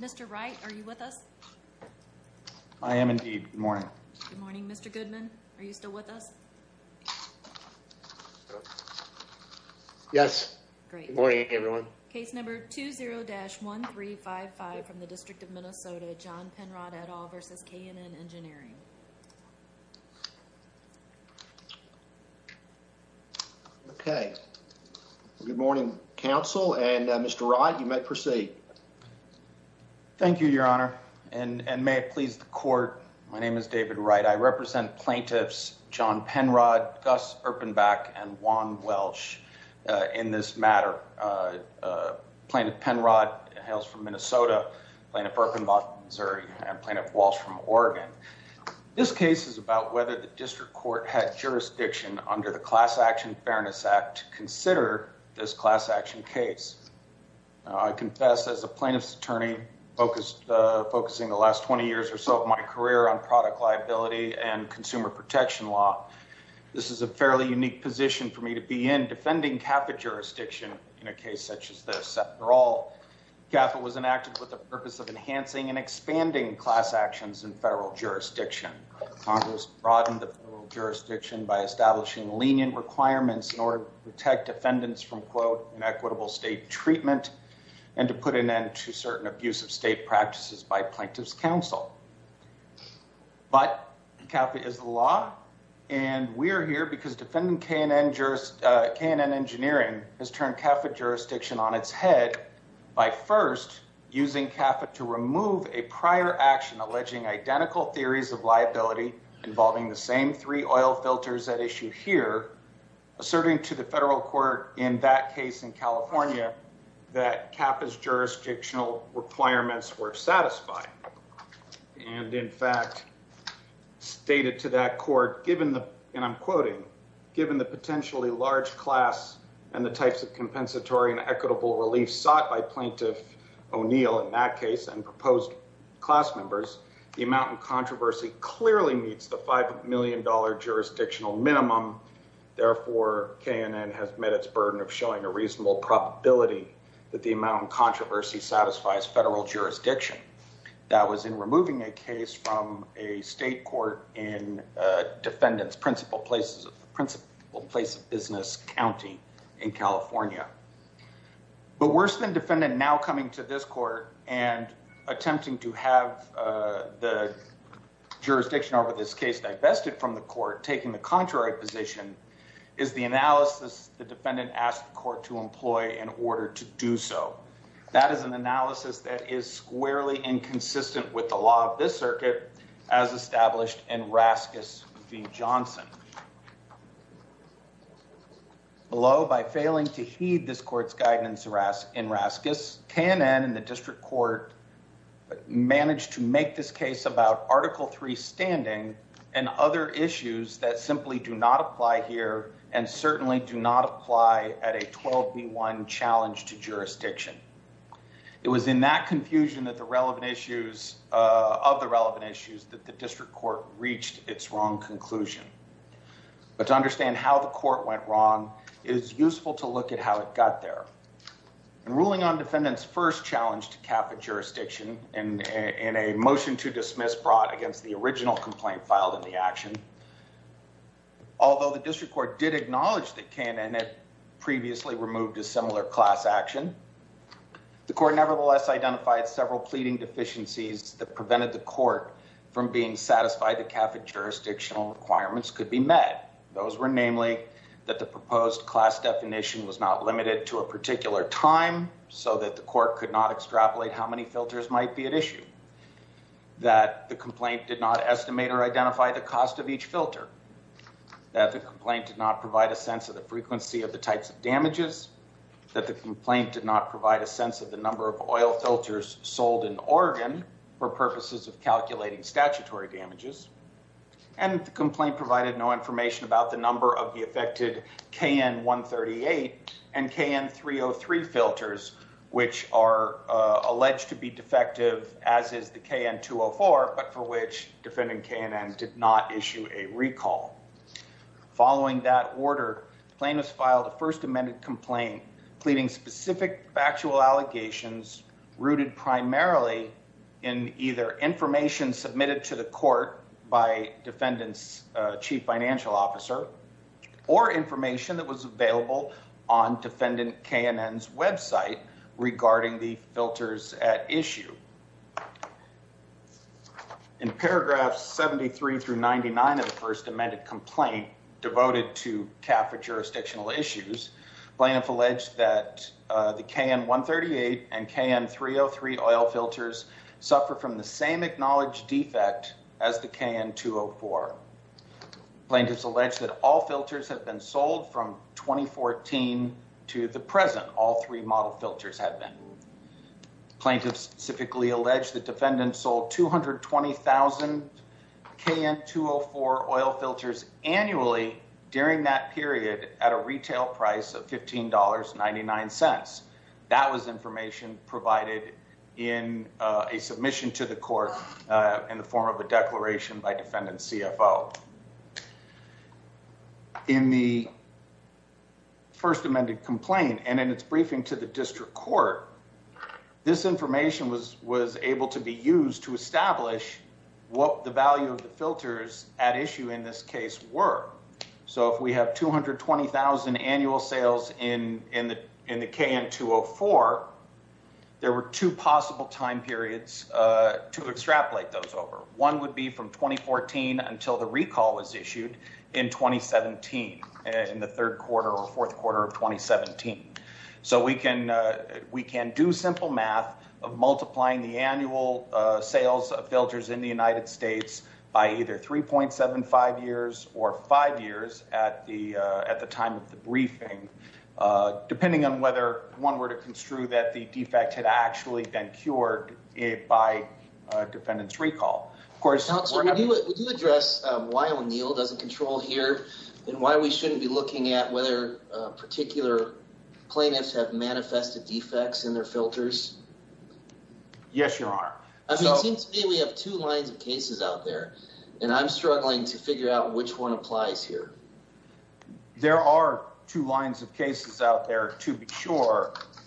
Mr. Wright, are you with us? I am indeed. Good morning. Good morning. Mr. Goodman, are you still with us? Yes. Good morning, everyone. Case number 20-1355 from the District of Minnesota, John Penrod et al. v. K&N Engineering. Okay. Good morning, counsel, and Mr. Wright, you may proceed. Thank you, Your Honor, and may it please the court, my name is David Wright. I represent plaintiffs John Penrod, Gus Erpenbach, and Juan Welch in this matter. Plaintiff Penrod hails from Minnesota, Plaintiff Erpenbach from Missouri, and Plaintiff Welch from Oregon. This case is about whether the district court had jurisdiction under the Class Action Fairness Act to consider this class action case. I confess as a plaintiff's attorney focusing the last 20 years or so of my career on product liability and consumer protection law, this is a fairly unique position for me to be defending CAFA jurisdiction in a case such as this. After all, CAFA was enacted with the purpose of enhancing and expanding class actions in federal jurisdiction. Congress broadened the jurisdiction by establishing lenient requirements in order to protect defendants from, quote, inequitable state treatment and to put an end to certain abusive state practices by plaintiff's counsel. But CAFA is the law, and we are here because defendant K&N Engineering has turned CAFA jurisdiction on its head by first using CAFA to remove a prior action alleging identical theories of liability involving the same three oil filters at issue here, asserting to the federal court in that case in California that CAFA's jurisdictional requirements were satisfied. And in fact, stated to that court, given the, and I'm quoting, given the potentially large class and the types of compensatory and equitable relief sought by plaintiff O'Neill in that case and proposed class members, the amount of controversy clearly meets the $5 million jurisdictional minimum. Therefore, K&N has met its burden of showing a reasonable probability that the amount of controversy satisfies federal jurisdiction. That was in removing a case from a state court in defendant's principal place of business county in California. But worse than defendant now coming to this court and attempting to have the jurisdiction over this case divested from the court, taking the contrary position, is the analysis the defendant asked the court to employ in order to do so. That is an analysis that is squarely inconsistent with the law of this circuit as established in Raskis v. Johnson. Below, by failing to heed this court's guidance in Raskis, K&N and the district court managed to make this case about Article III standing and other issues that simply do not apply here and certainly do not apply at a 12 v. 1 challenge to jurisdiction. It was in that confusion of the relevant issues that the district court reached its wrong conclusion. But to understand how the court went wrong, it is useful to look at how it got there. In ruling on defendant's first challenge to CAFID jurisdiction in a motion to dismiss brought against the original complaint filed in the action, although the district court did acknowledge that K&N had previously removed a similar class action, the court nevertheless identified several pleading deficiencies that prevented the court from being satisfied that CAFID jurisdictional requirements could be met. Those were namely that the proposed class definition was not limited to a particular time so that the court could not extrapolate how many filters might be at issue. That the complaint did not estimate or identify the cost of each filter. That the complaint did not provide a sense of the frequency of the types of damages. That the complaint did not provide a sense of the number of oil filters sold in Oregon for purposes of calculating statutory damages. And the complaint provided no information about the number of the affected KN-138 and KN-303 filters, which are alleged to be defective, as is the KN-204, but for which defendant K&N did not issue a recall. Following that order, plaintiffs filed a first amended complaint pleading specific factual allegations rooted primarily in either information submitted to the court by defendant's chief financial officer, or information that was available on defendant K&N's website regarding the filters at issue. In paragraphs 73 through 99 of the first amended complaint devoted to CAFID jurisdictional issues, plaintiff alleged that the KN-138 and KN-303 oil filters suffer from the same acknowledged defect as the KN-204. Plaintiffs allege that all filters have been sold from 2014 to the present, all three model filters have been. Plaintiffs specifically allege the defendant sold 220,000 KN-204 oil filters annually during that period at a retail price of $15.99. That was information provided in a submission to the court in the form of a declaration by defendant's CFO. In the first amended complaint and in its briefing to the district court, this information was able to be used to establish what the value of the filters at issue in this case were. So if we have 220,000 annual sales in the KN-204, there were two possible time periods to extrapolate those over. One would be from 2014 until the recall was issued in 2017, in the third quarter or fourth quarter of 2017. So we can do simple math of multiplying the annual sales of filters in the United States by either 3.75 years or five years at the time of the briefing, depending on whether one were to construe that the defect had actually been cured by defendant's recall. Would you address why O'Neill doesn't control here, and why we shouldn't be looking at whether particular plaintiffs have manifested defects in their filters? Yes, Your Honor. It seems to me we have two lines of cases out there, and I'm struggling to figure out which one applies here. There are two lines of cases out there to be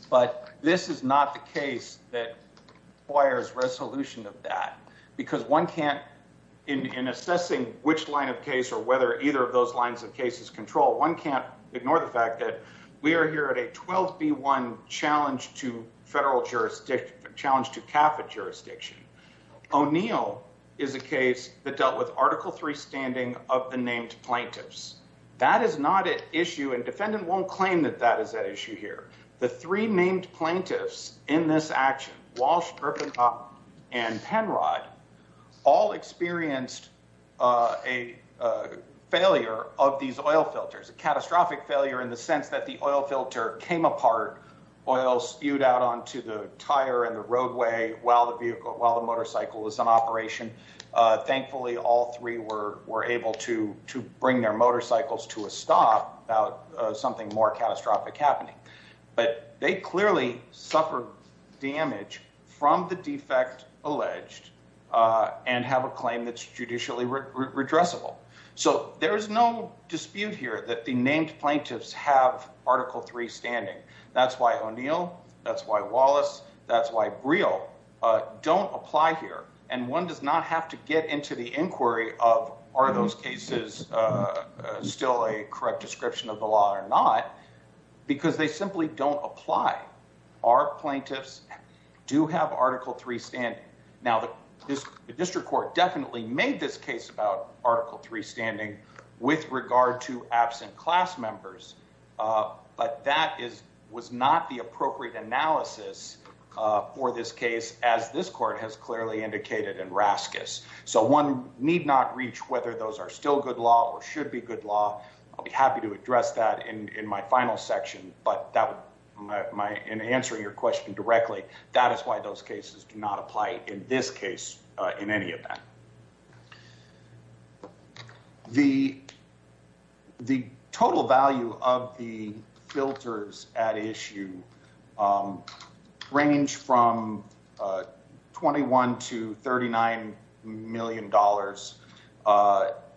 but this is not the case that requires resolution of that. Because one can't, in assessing which line of case or whether either of those lines of cases control, one can't ignore the fact that we are here at a 12B1 challenge to federal jurisdiction, challenge to CAFA jurisdiction. O'Neill is a case that dealt with Article III standing of the named plaintiffs. That is not issue, and defendant won't claim that that is an issue here. The three named plaintiffs in this action, Walsh, Gripenhoff, and Penrod, all experienced a failure of these oil filters, a catastrophic failure in the sense that the oil filter came apart, oil spewed out onto the tire and the roadway while the motorcycle was in operation. Thankfully, all three were able to about something more catastrophic happening. But they clearly suffered damage from the defect alleged and have a claim that's judicially redressable. So there is no dispute here that the named plaintiffs have Article III standing. That's why O'Neill, that's why Wallace, that's why Briel don't apply here. And one does not have to get into the inquiry of are those cases still a correct description of the law or not, because they simply don't apply. Our plaintiffs do have Article III standing. Now, the district court definitely made this case about Article III standing with regard to absent class members, but that was not the appropriate analysis for this case as this court has clearly indicated in Raskis. So one need not reach whether those are still good law or should be good law. I'll be happy to address that in my final section, but in answering your question directly, that is why those cases do not apply in this case in any manner. The total value of the filters at issue range from $21 to $39 million.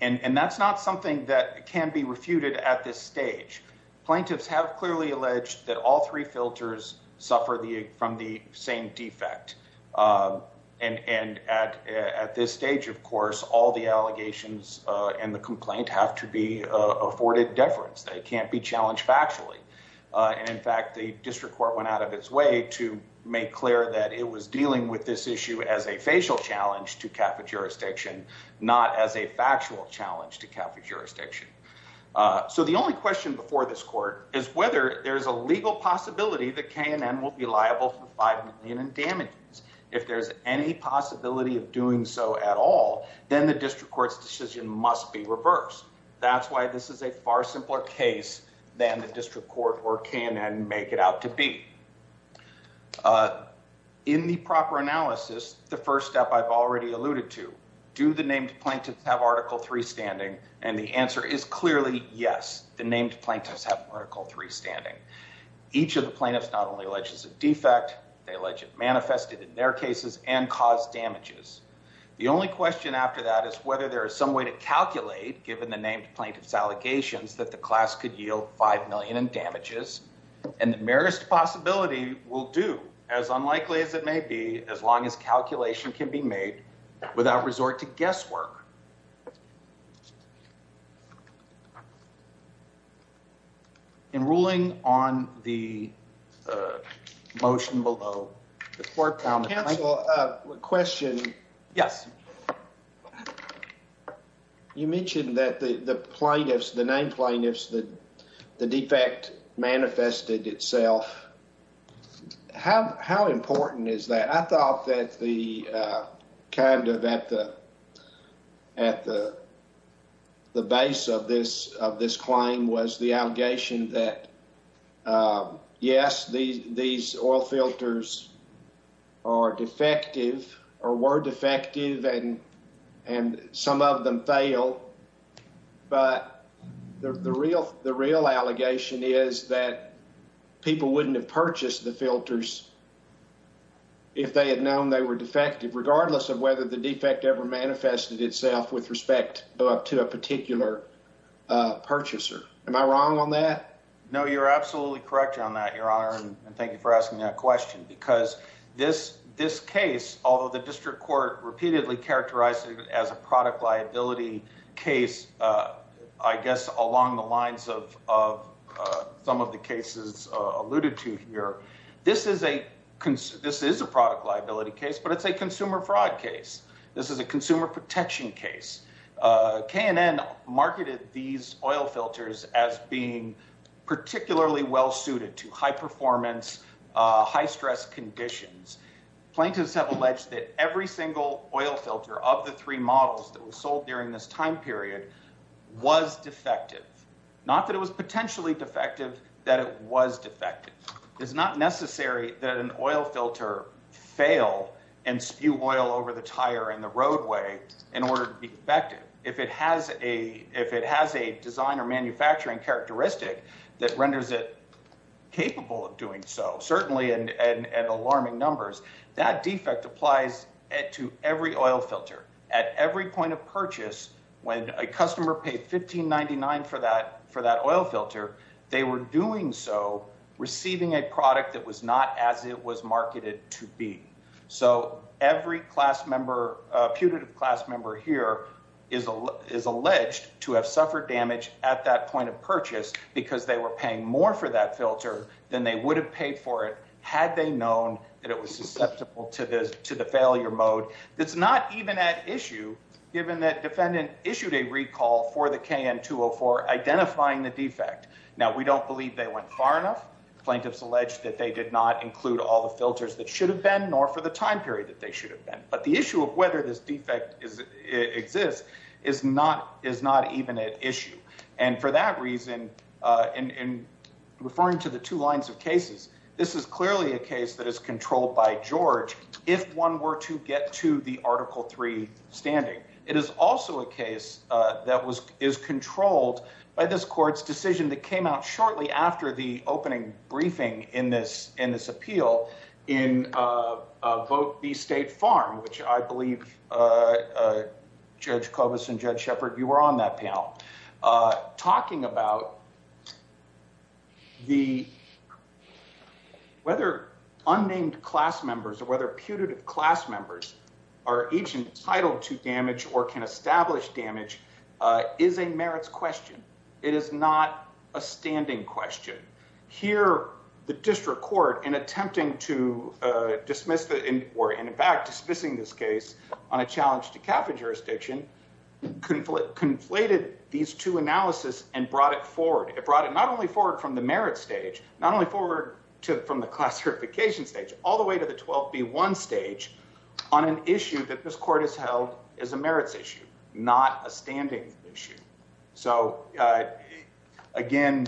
And that's not something that can be refuted at this stage. Plaintiffs have clearly alleged that all three filters suffer from the same defect. And at this stage, of course, all the allegations and the complaint have to be afforded deference. They can't be challenged factually. And in fact, the district court went out of its way to make clear that it was dealing with this issue as a facial challenge to CAFA jurisdiction, not as a factual challenge to CAFA jurisdiction. So the only question before this court is whether there's a legal possibility that K&N will be liable for $5 million in damages. If there's any possibility of doing so at all, then the district court's decision must be reversed. That's why this is a far simpler case than the district court or K&N make it out to be. In the proper analysis, the first step I've already alluded to, do the clearly, yes, the named plaintiffs have Article 3 standing. Each of the plaintiffs not only alleges a defect, they allege it manifested in their cases and caused damages. The only question after that is whether there is some way to calculate, given the named plaintiff's allegations, that the class could yield $5 million in damages. And the merest possibility will do, as unlikely as it may be, as long as calculation can be made without resort to guesswork. In ruling on the motion below, the court found... Counsel, a question. Yes. You mentioned that the plaintiffs, the named plaintiffs, the defect manifested itself. How important is that? I thought that the, kind of at the base of this claim was the allegation that, yes, these oil filters are defective, or were defective, and some of them failed. But the real allegation is that people wouldn't have purchased the filters if they had known they were defective, regardless of whether the defect ever manifested itself with respect to a particular purchaser. Am I wrong on that? No, you're absolutely correct on that, Your Honor, and thank you for asking that question, because this case, although the district court repeatedly characterized it as a product liability case, I guess, along the lines of some of the cases alluded to here, this is a product liability case, but it's a consumer fraud case. This is a consumer protection case. K&N marketed these oil filters as being particularly well-suited to high-performance, high-stress conditions. Plaintiffs have alleged that every single oil filter of the three models that were sold during this time period was defective. Not that it was potentially defective, that it was defective. It's not necessary that an oil filter fail and spew oil over the tire in the roadway in order to be defective. If it has a design or manufacturing characteristic that renders it capable of doing so, certainly in alarming numbers, that defect applies to every oil filter. At every point of purchase, when a customer paid $15.99 for that oil filter, they were doing so receiving a product that was not as it was marketed to be. Every putative class member here is alleged to have suffered damage at that point of purchase because they were paying more for that filter than they would have paid for it had they known that it was susceptible to the failure mode. It's not even at issue given that defendant issued a recall for the K&N 204 identifying the defect. Now, we don't believe they went far enough. Plaintiffs allege that they did not include all the filters that should have been, nor for the time period that they should have been. But the issue of whether this defect exists is not even at issue. And for that reason, in referring to the two lines of cases, this is clearly a case that is controlled by George if one were to get to the Article 3 standing. It is also a case that is controlled by this court's decision that came out shortly after the opening briefing in this appeal in Vote B State Farm, which I believe, Judge Kobus and Judge Sheppard, you were on that panel, talking about whether unnamed class members or whether putative class members are agents entitled to damage or can establish damage is a merits question. It is not a standing question. Here, the district court, in attempting to dismiss or in fact dismissing this case on a challenge to capital jurisdiction, conflated these two analysis and brought it forward. It brought it not only forward from the merit stage, not only forward from the classification stage, all the way to the 12B1 stage on an issue that this court has held is a merits issue, not a standing issue. So, again,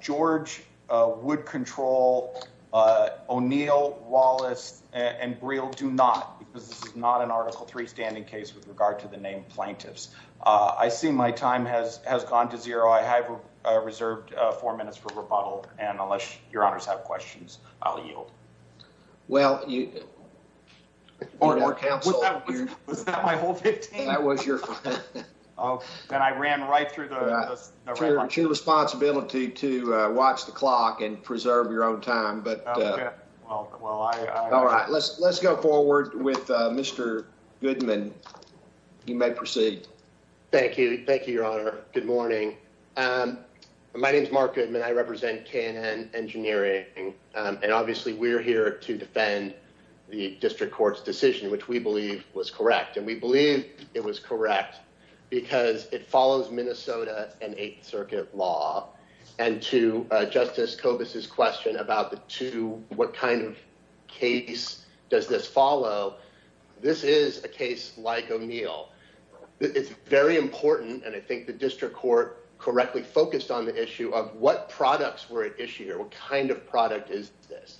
George would control O'Neill, Wallace, and Breal do not, because this is not an Article 3 standing case with regard to the named plaintiffs. I see my time has gone to zero. I have reserved four minutes for rebuttal, and unless your honors have questions, I'll yield. Well, you... Was that my whole 15? That was your... And I ran right through the... It's your responsibility to watch the clock and preserve your own time, but... Okay. Well, I... All right. Let's go forward with Mr. Goodman. You may proceed. Thank you. Thank you, your honor. Good morning. My name is Mark Goodman. I represent K&N Engineering, and obviously we're here to defend the district court's decision, which we believe was correct, and we believe it was correct because it follows Minnesota and Eighth Circuit law, and to Justice Kobus's question about the two, what kind of case does this follow, this is a case like O'Neill. It's very important, and I think the district court correctly focused on the issue of what products were at issue here. What kind of product is this?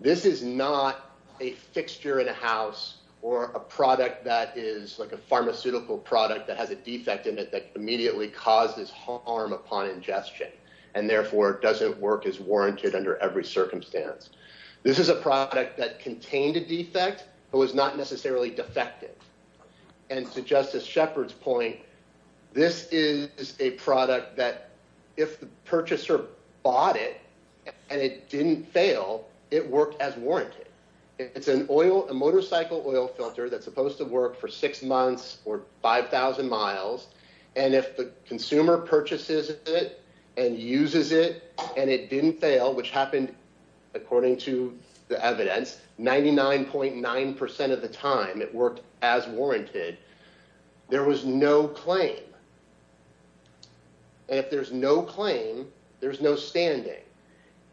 This is not a fixture in a house or a product that is like a pharmaceutical product that has defect in it that immediately causes harm upon ingestion, and therefore doesn't work as warranted under every circumstance. This is a product that contained a defect, but was not necessarily defective. And to Justice Shepard's point, this is a product that if the purchaser bought it and it didn't fail, it worked as warranted. It's an oil, a motorcycle oil filter that's supposed to work for six months or 5,000 miles, and if the consumer purchases it and uses it and it didn't fail, which happened according to the evidence, 99.9% of the time it worked as warranted, there was no claim. And if there's no claim, there's no standing.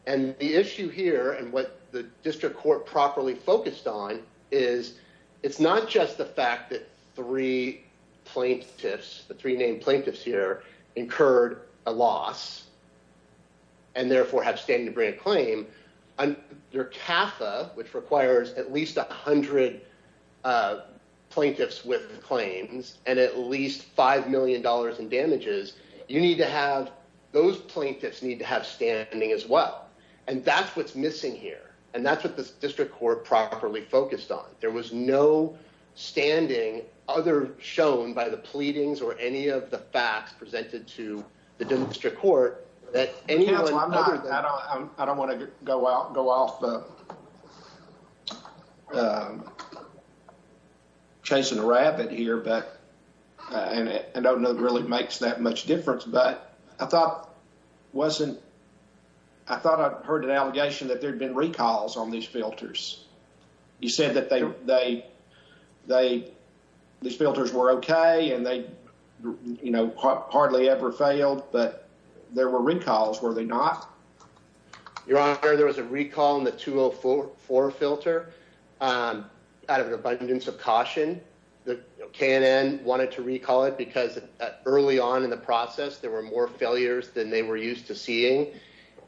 And the issue here, and what the district court properly focused on, is it's not just the fact that three plaintiffs, the three named plaintiffs here, incurred a loss and therefore have standing to bring a claim. Your CAFA, which requires at least 100 plaintiffs with claims and at least $5 million in damages, you need to have, those plaintiffs need to have standing as well. And that's what's missing here, and that's what the district court properly focused on. There was no standing other shown by the pleadings or any of the facts presented to the district court that anyone other than- I thought I heard an allegation that there'd been recalls on these filters. You said that these filters were okay and they hardly ever failed, but there were recalls, were they not? Your Honor, there was a recall in the 204 filter out of an abundance of caution. The K&N wanted to recall it because early on in the process, there were more failures than they were used to seeing.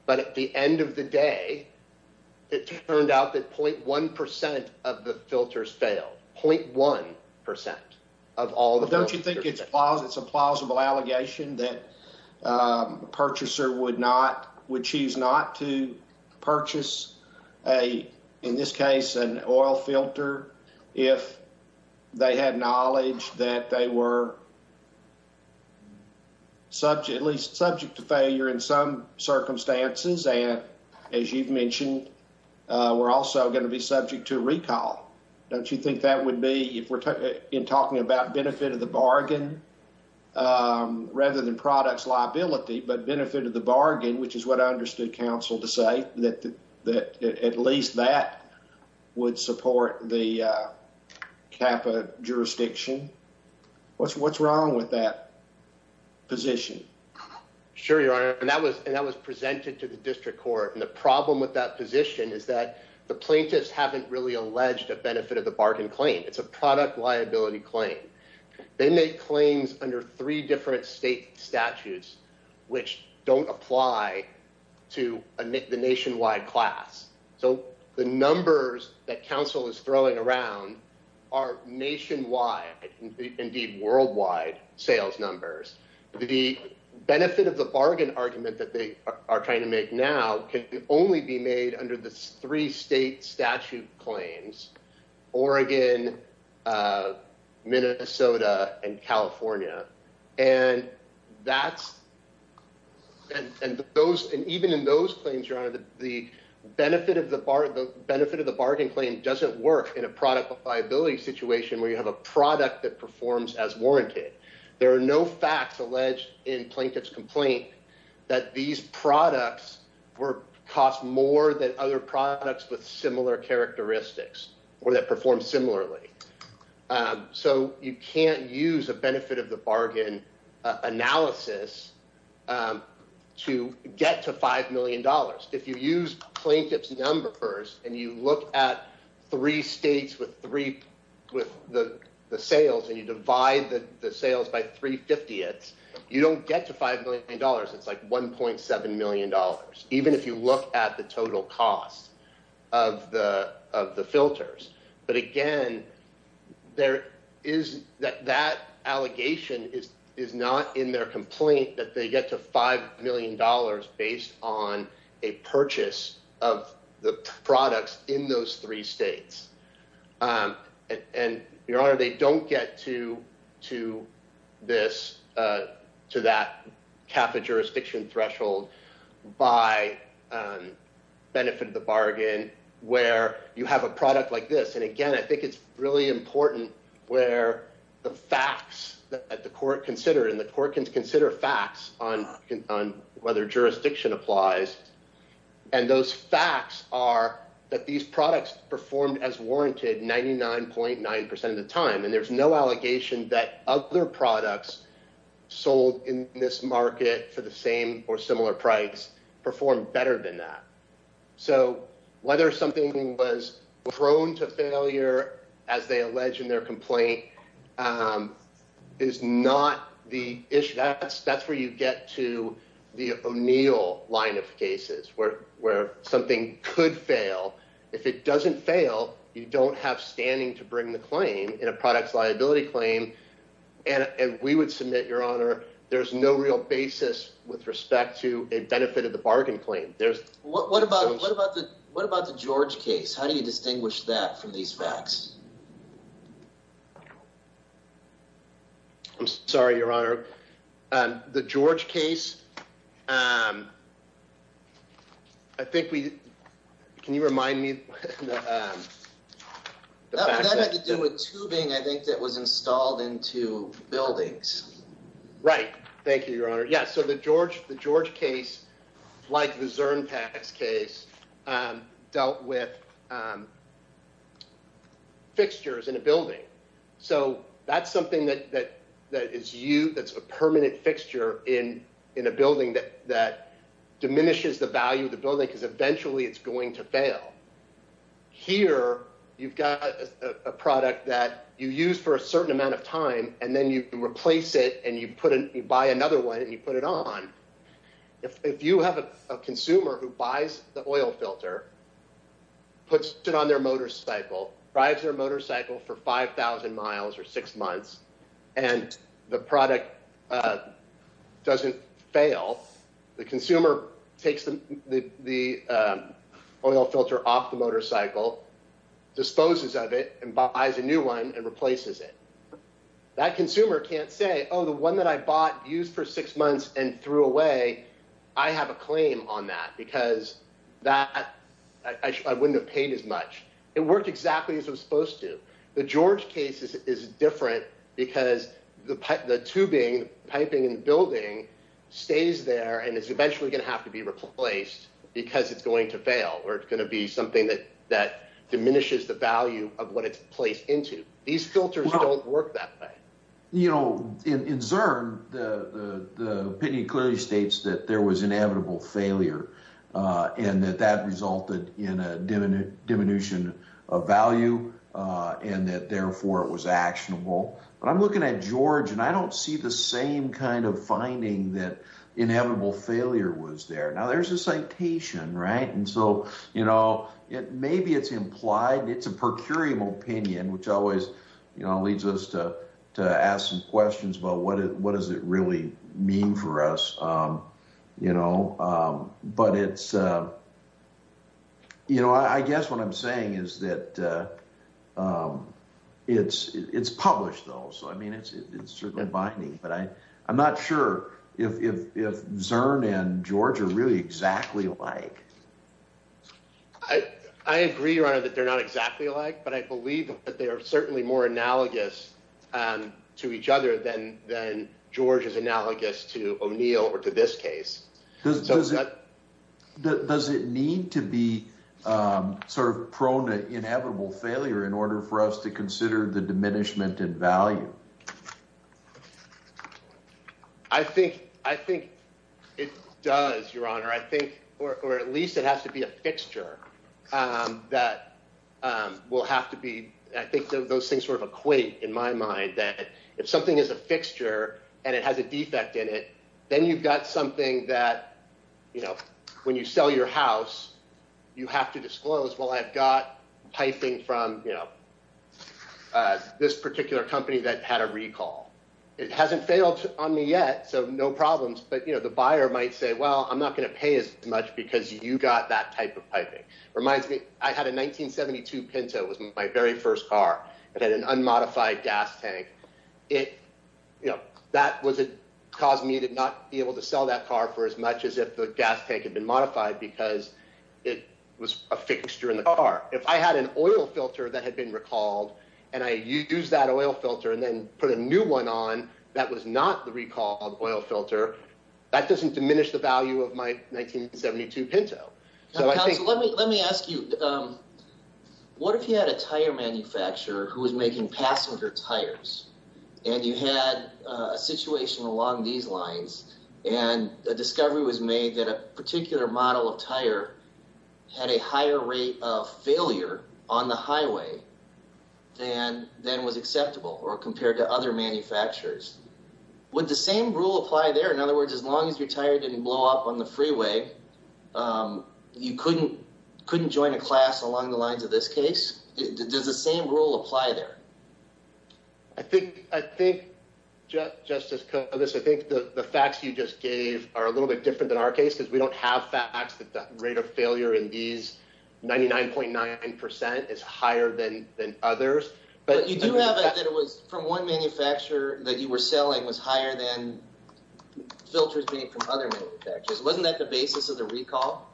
But at the end of the day, it turned out that 0.1% of the filters failed, 0.1% of all the filters. Don't you think it's a plausible allegation that a purchaser would choose not to replace an oil filter if they had knowledge that they were subject, at least subject to failure in some circumstances? And as you've mentioned, we're also going to be subject to recall. Don't you think that would be, if we're talking about benefit of the bargain rather than products liability, but benefit of the bargain, which is what I understood counsel to say, that at least that would support the CAPA jurisdiction? What's wrong with that position? Sure, Your Honor. And that was presented to the district court. And the problem with that position is that the plaintiffs haven't really alleged a benefit of the bargain claim. It's a product liability claim. They make claims under three different state statutes, which don't apply to the nationwide class. So the numbers that counsel is throwing around are nationwide, indeed, worldwide sales numbers. The benefit of the bargain argument that they are trying to make now can only be made under the three state statute claims, Oregon, Minnesota, and California. And even in those claims, Your Honor, the benefit of the bargain claim doesn't work in a product liability situation where you have a product that performs as warranted. There are no facts alleged in plaintiff's complaint that these or that perform similarly. So you can't use a benefit of the bargain analysis to get to $5 million. If you use plaintiff's numbers and you look at three states with the sales and you divide the sales by three fiftieths, you don't get to $5 million. It's $1.7 million, even if you look at the total cost of the filters. But again, that allegation is not in their complaint that they get to $5 million based on a purchase of the products in those states. And Your Honor, they don't get to that CAFA jurisdiction threshold by benefit of the bargain where you have a product like this. And again, I think it's really important where the facts that the court considered and the court can consider facts on whether jurisdiction applies. And those facts are that these products performed as warranted 99.9 percent of the time. And there's no allegation that other products sold in this market for the same or similar price performed better than that. So whether something was prone to failure, as they allege in their line of cases where something could fail, if it doesn't fail, you don't have standing to bring the claim in a product's liability claim. And we would submit, Your Honor, there's no real basis with respect to a benefit of the bargain claim. What about the George case? How do you distinguish that from these facts? I'm sorry, Your Honor. The George case, I think we, can you remind me? That had to do with tubing, I think, that was installed into buildings. Right. Thank you, Your Honor. Yes. So the George case, like the Zurn tax case, dealt with fixtures in a building. So that's something that is a permanent fixture in a building that diminishes the value of the building because eventually it's going to fail. Here, you've got a product that you use for a certain amount of time and then you replace it and you buy another one and you put it on. If you have a consumer who buys the oil filter, puts it on their motorcycle, drives their motorcycle for 5,000 miles or six months, and the product doesn't fail, the consumer takes the oil filter off the motorcycle, disposes of it, and buys a new one and replaces it. That consumer can't say, oh, the one that I bought, used for six months, and threw away, I have a claim on that because I wouldn't have paid as much. It worked exactly as it was supposed to. The George case is different because the tubing, piping in the building, stays there and is eventually going to have to be replaced because it's going to fail or it's going to be something that diminishes the value of what it's placed into. These filters don't work that way. In Zurn, the opinion clearly states that there was inevitable failure and that that resulted in a diminution of value and that therefore it was actionable. But I'm looking at George and I don't see the same kind of finding that inevitable failure was there. Now, there's a citation. Maybe it's implied, it's a per curiam opinion, which always leads us to ask some questions about what does it really mean for us. I guess what I'm saying is that it's published though, so it's binding, but I'm not sure if Zurn and George are really exactly alike. I agree, your honor, that they're not exactly alike, but I believe that they are certainly more analogous to each other than George is analogous to O'Neill or to this case. Does it need to be sort of prone to inevitable failure in order for us to consider the fact that it's a per curiam? I think it does, your honor. Or at least it has to be a fixture that will have to be... I think those things sort of equate in my mind that if something is a fixture and it has a defect in it, then you've got something that when you sell your house, you have to disclose, well, I've got piping from this particular company that had a recall. It hasn't failed on me yet, so no problems, but the buyer might say, well, I'm not going to pay as much because you got that type of piping. Reminds me, I had a 1972 Pinto. It was my very first car. It had an unmodified gas tank. That caused me to not be able to sell that car for as much as if the gas tank had been modified because it was a fixture in the car. If I had an oil filter and then put a new one on that was not the recall oil filter, that doesn't diminish the value of my 1972 Pinto. Let me ask you, what if you had a tire manufacturer who was making passenger tires and you had a situation along these lines and a discovery was made that a particular model of tire had a higher rate of failure on the highway than was acceptable or compared to other manufacturers, would the same rule apply there? In other words, as long as your tire didn't blow up on the freeway, you couldn't join a class along the lines of this case. Does the same rule apply there? I think, Justice Kovacs, I think the facts you just gave are a little bit different than our facts that the rate of failure in these 99.9% is higher than others. But you do have that it was from one manufacturer that you were selling was higher than filters being from other manufacturers. Wasn't that the basis of the recall?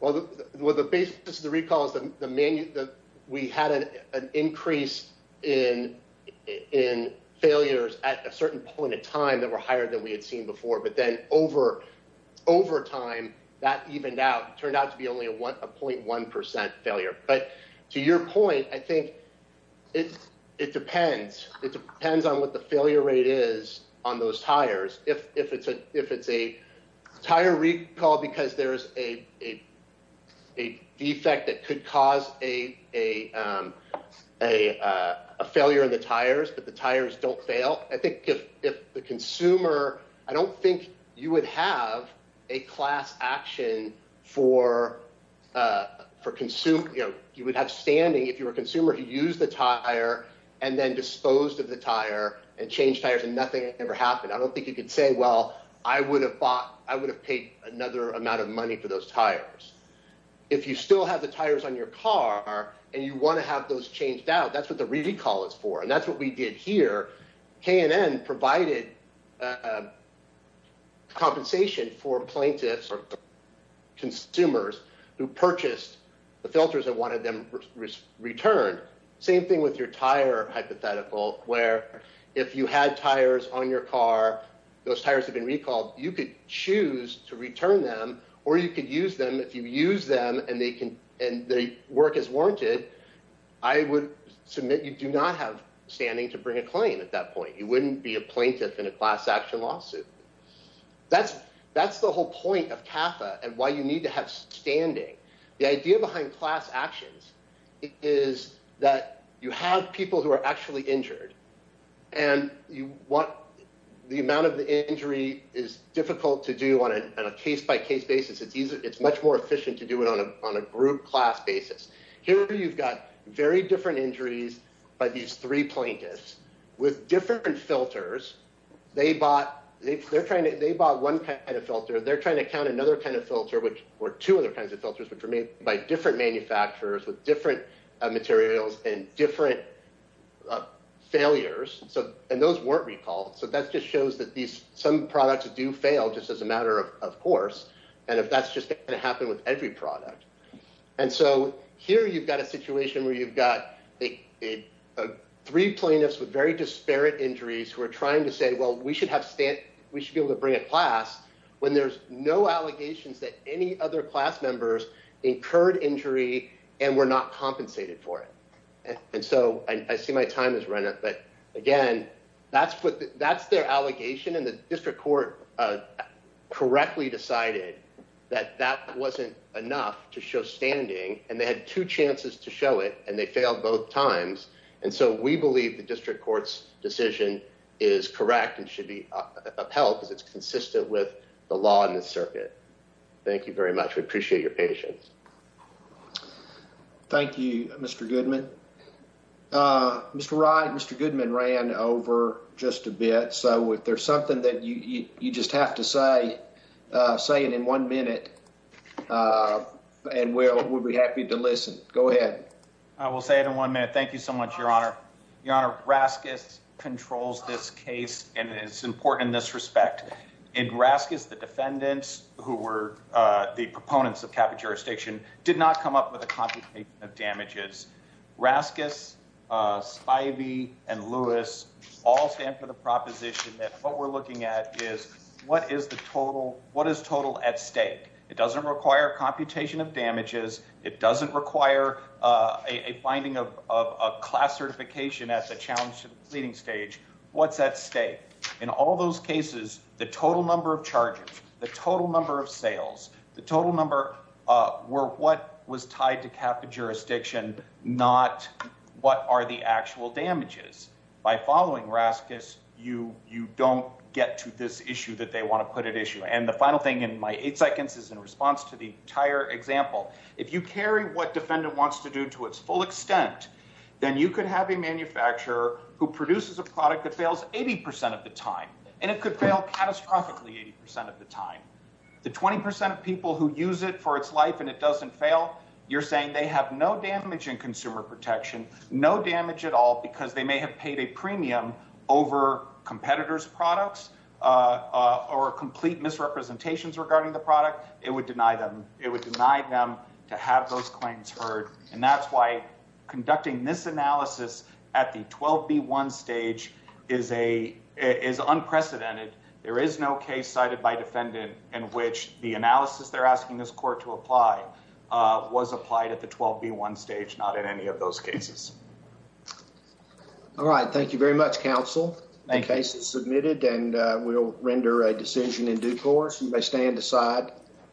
Well, the basis of the recall is that we had an increase in failures at a certain point in time that were higher than we had seen before. But then over time, that evened out, turned out to be only a 0.1% failure. But to your point, I think it depends. It depends on what the failure rate is on those tires. If it's a tire recall because there's a defect that could cause a failure in the tires, but the tires don't fail, I think if the consumer, I don't think you would have a class action for, you know, you would have standing if you were a consumer who used the tire and then disposed of the tire and changed tires and nothing ever happened. I don't think you could say, well, I would have bought, I would have paid another amount of money for those tires. If you still have the tires on your car and you want to have those tires on your car, you could choose to return them or you could use them. If you use them and they work as warranted, I would submit you do not have standing to bring a claim at that point. You wouldn't be a plaintiff in a class action lawsuit. That's the whole point of CAFA and why you need to have standing. The idea behind class actions is that you have people who are actually injured and the amount of the injury is difficult to do on a case by case basis. It's much more efficient to do it on a group class basis. Here you've got very different injuries by these three plaintiffs with different filters. They bought one kind of filter. They're trying to count another kind of filter, which were two other kinds of filters, which were made by different manufacturers with different materials and different failures. And those weren't recalled. So that just shows that some products do fail just as a matter of course, and if that's just going to happen with every product. And so here you've got a situation where you've got three plaintiffs with very disparate injuries who are trying to say, well, we should be able to bring a class when there's no allegations that any other class members incurred injury and were not compensated for it. And so I see my time has run out, but again, that's their allegation and the district court correctly decided that that wasn't enough to show standing and they had two chances to show it and they failed both times. And so we believe the district court's decision is correct and should be upheld because it's consistent with the law and the circuit. Thank you very much. We appreciate your patience. Thank you, Mr. Goodman. Mr. Wright, Mr. Goodman ran over just a bit. So if there's something that you just have to say, say it in one minute and we'll be happy to listen. Go ahead. I will say it in one minute. Thank you so much, Your Honor. Your Honor, Raskis controls this case and it's important in this respect. In Raskis, the defendants who were the proponents of CAPA jurisdiction did not come up with a complication of damages. Raskis, Spivey, and Lewis all stand for the proposition that what we're looking at is what is total at stake. It doesn't require computation of damages. It doesn't require a finding of a class certification at the challenge to the pleading stage. What's at stake? In all those cases, the total number of charges, the total number of sales, the total number were what was tied to CAPA jurisdiction, not what are the you don't get to this issue that they want to put at issue. And the final thing in my eight seconds is in response to the entire example. If you carry what defendant wants to do to its full extent, then you could have a manufacturer who produces a product that fails 80% of the time, and it could fail catastrophically 80% of the time. The 20% of people who use it for its life and it doesn't fail, you're saying they have no damage in consumer protection, no damage at all because they may have paid a premium over competitors' products or complete misrepresentations regarding the product, it would deny them. It would deny them to have those claims heard. And that's why conducting this analysis at the 12B1 stage is unprecedented. There is no case cited by defendant in which the analysis they're asking this court to apply was applied at the 12B1 stage, not in any of those cases. All right. Thank you very much, counsel. The case is submitted, and we'll render a decision in due course. You may stand aside.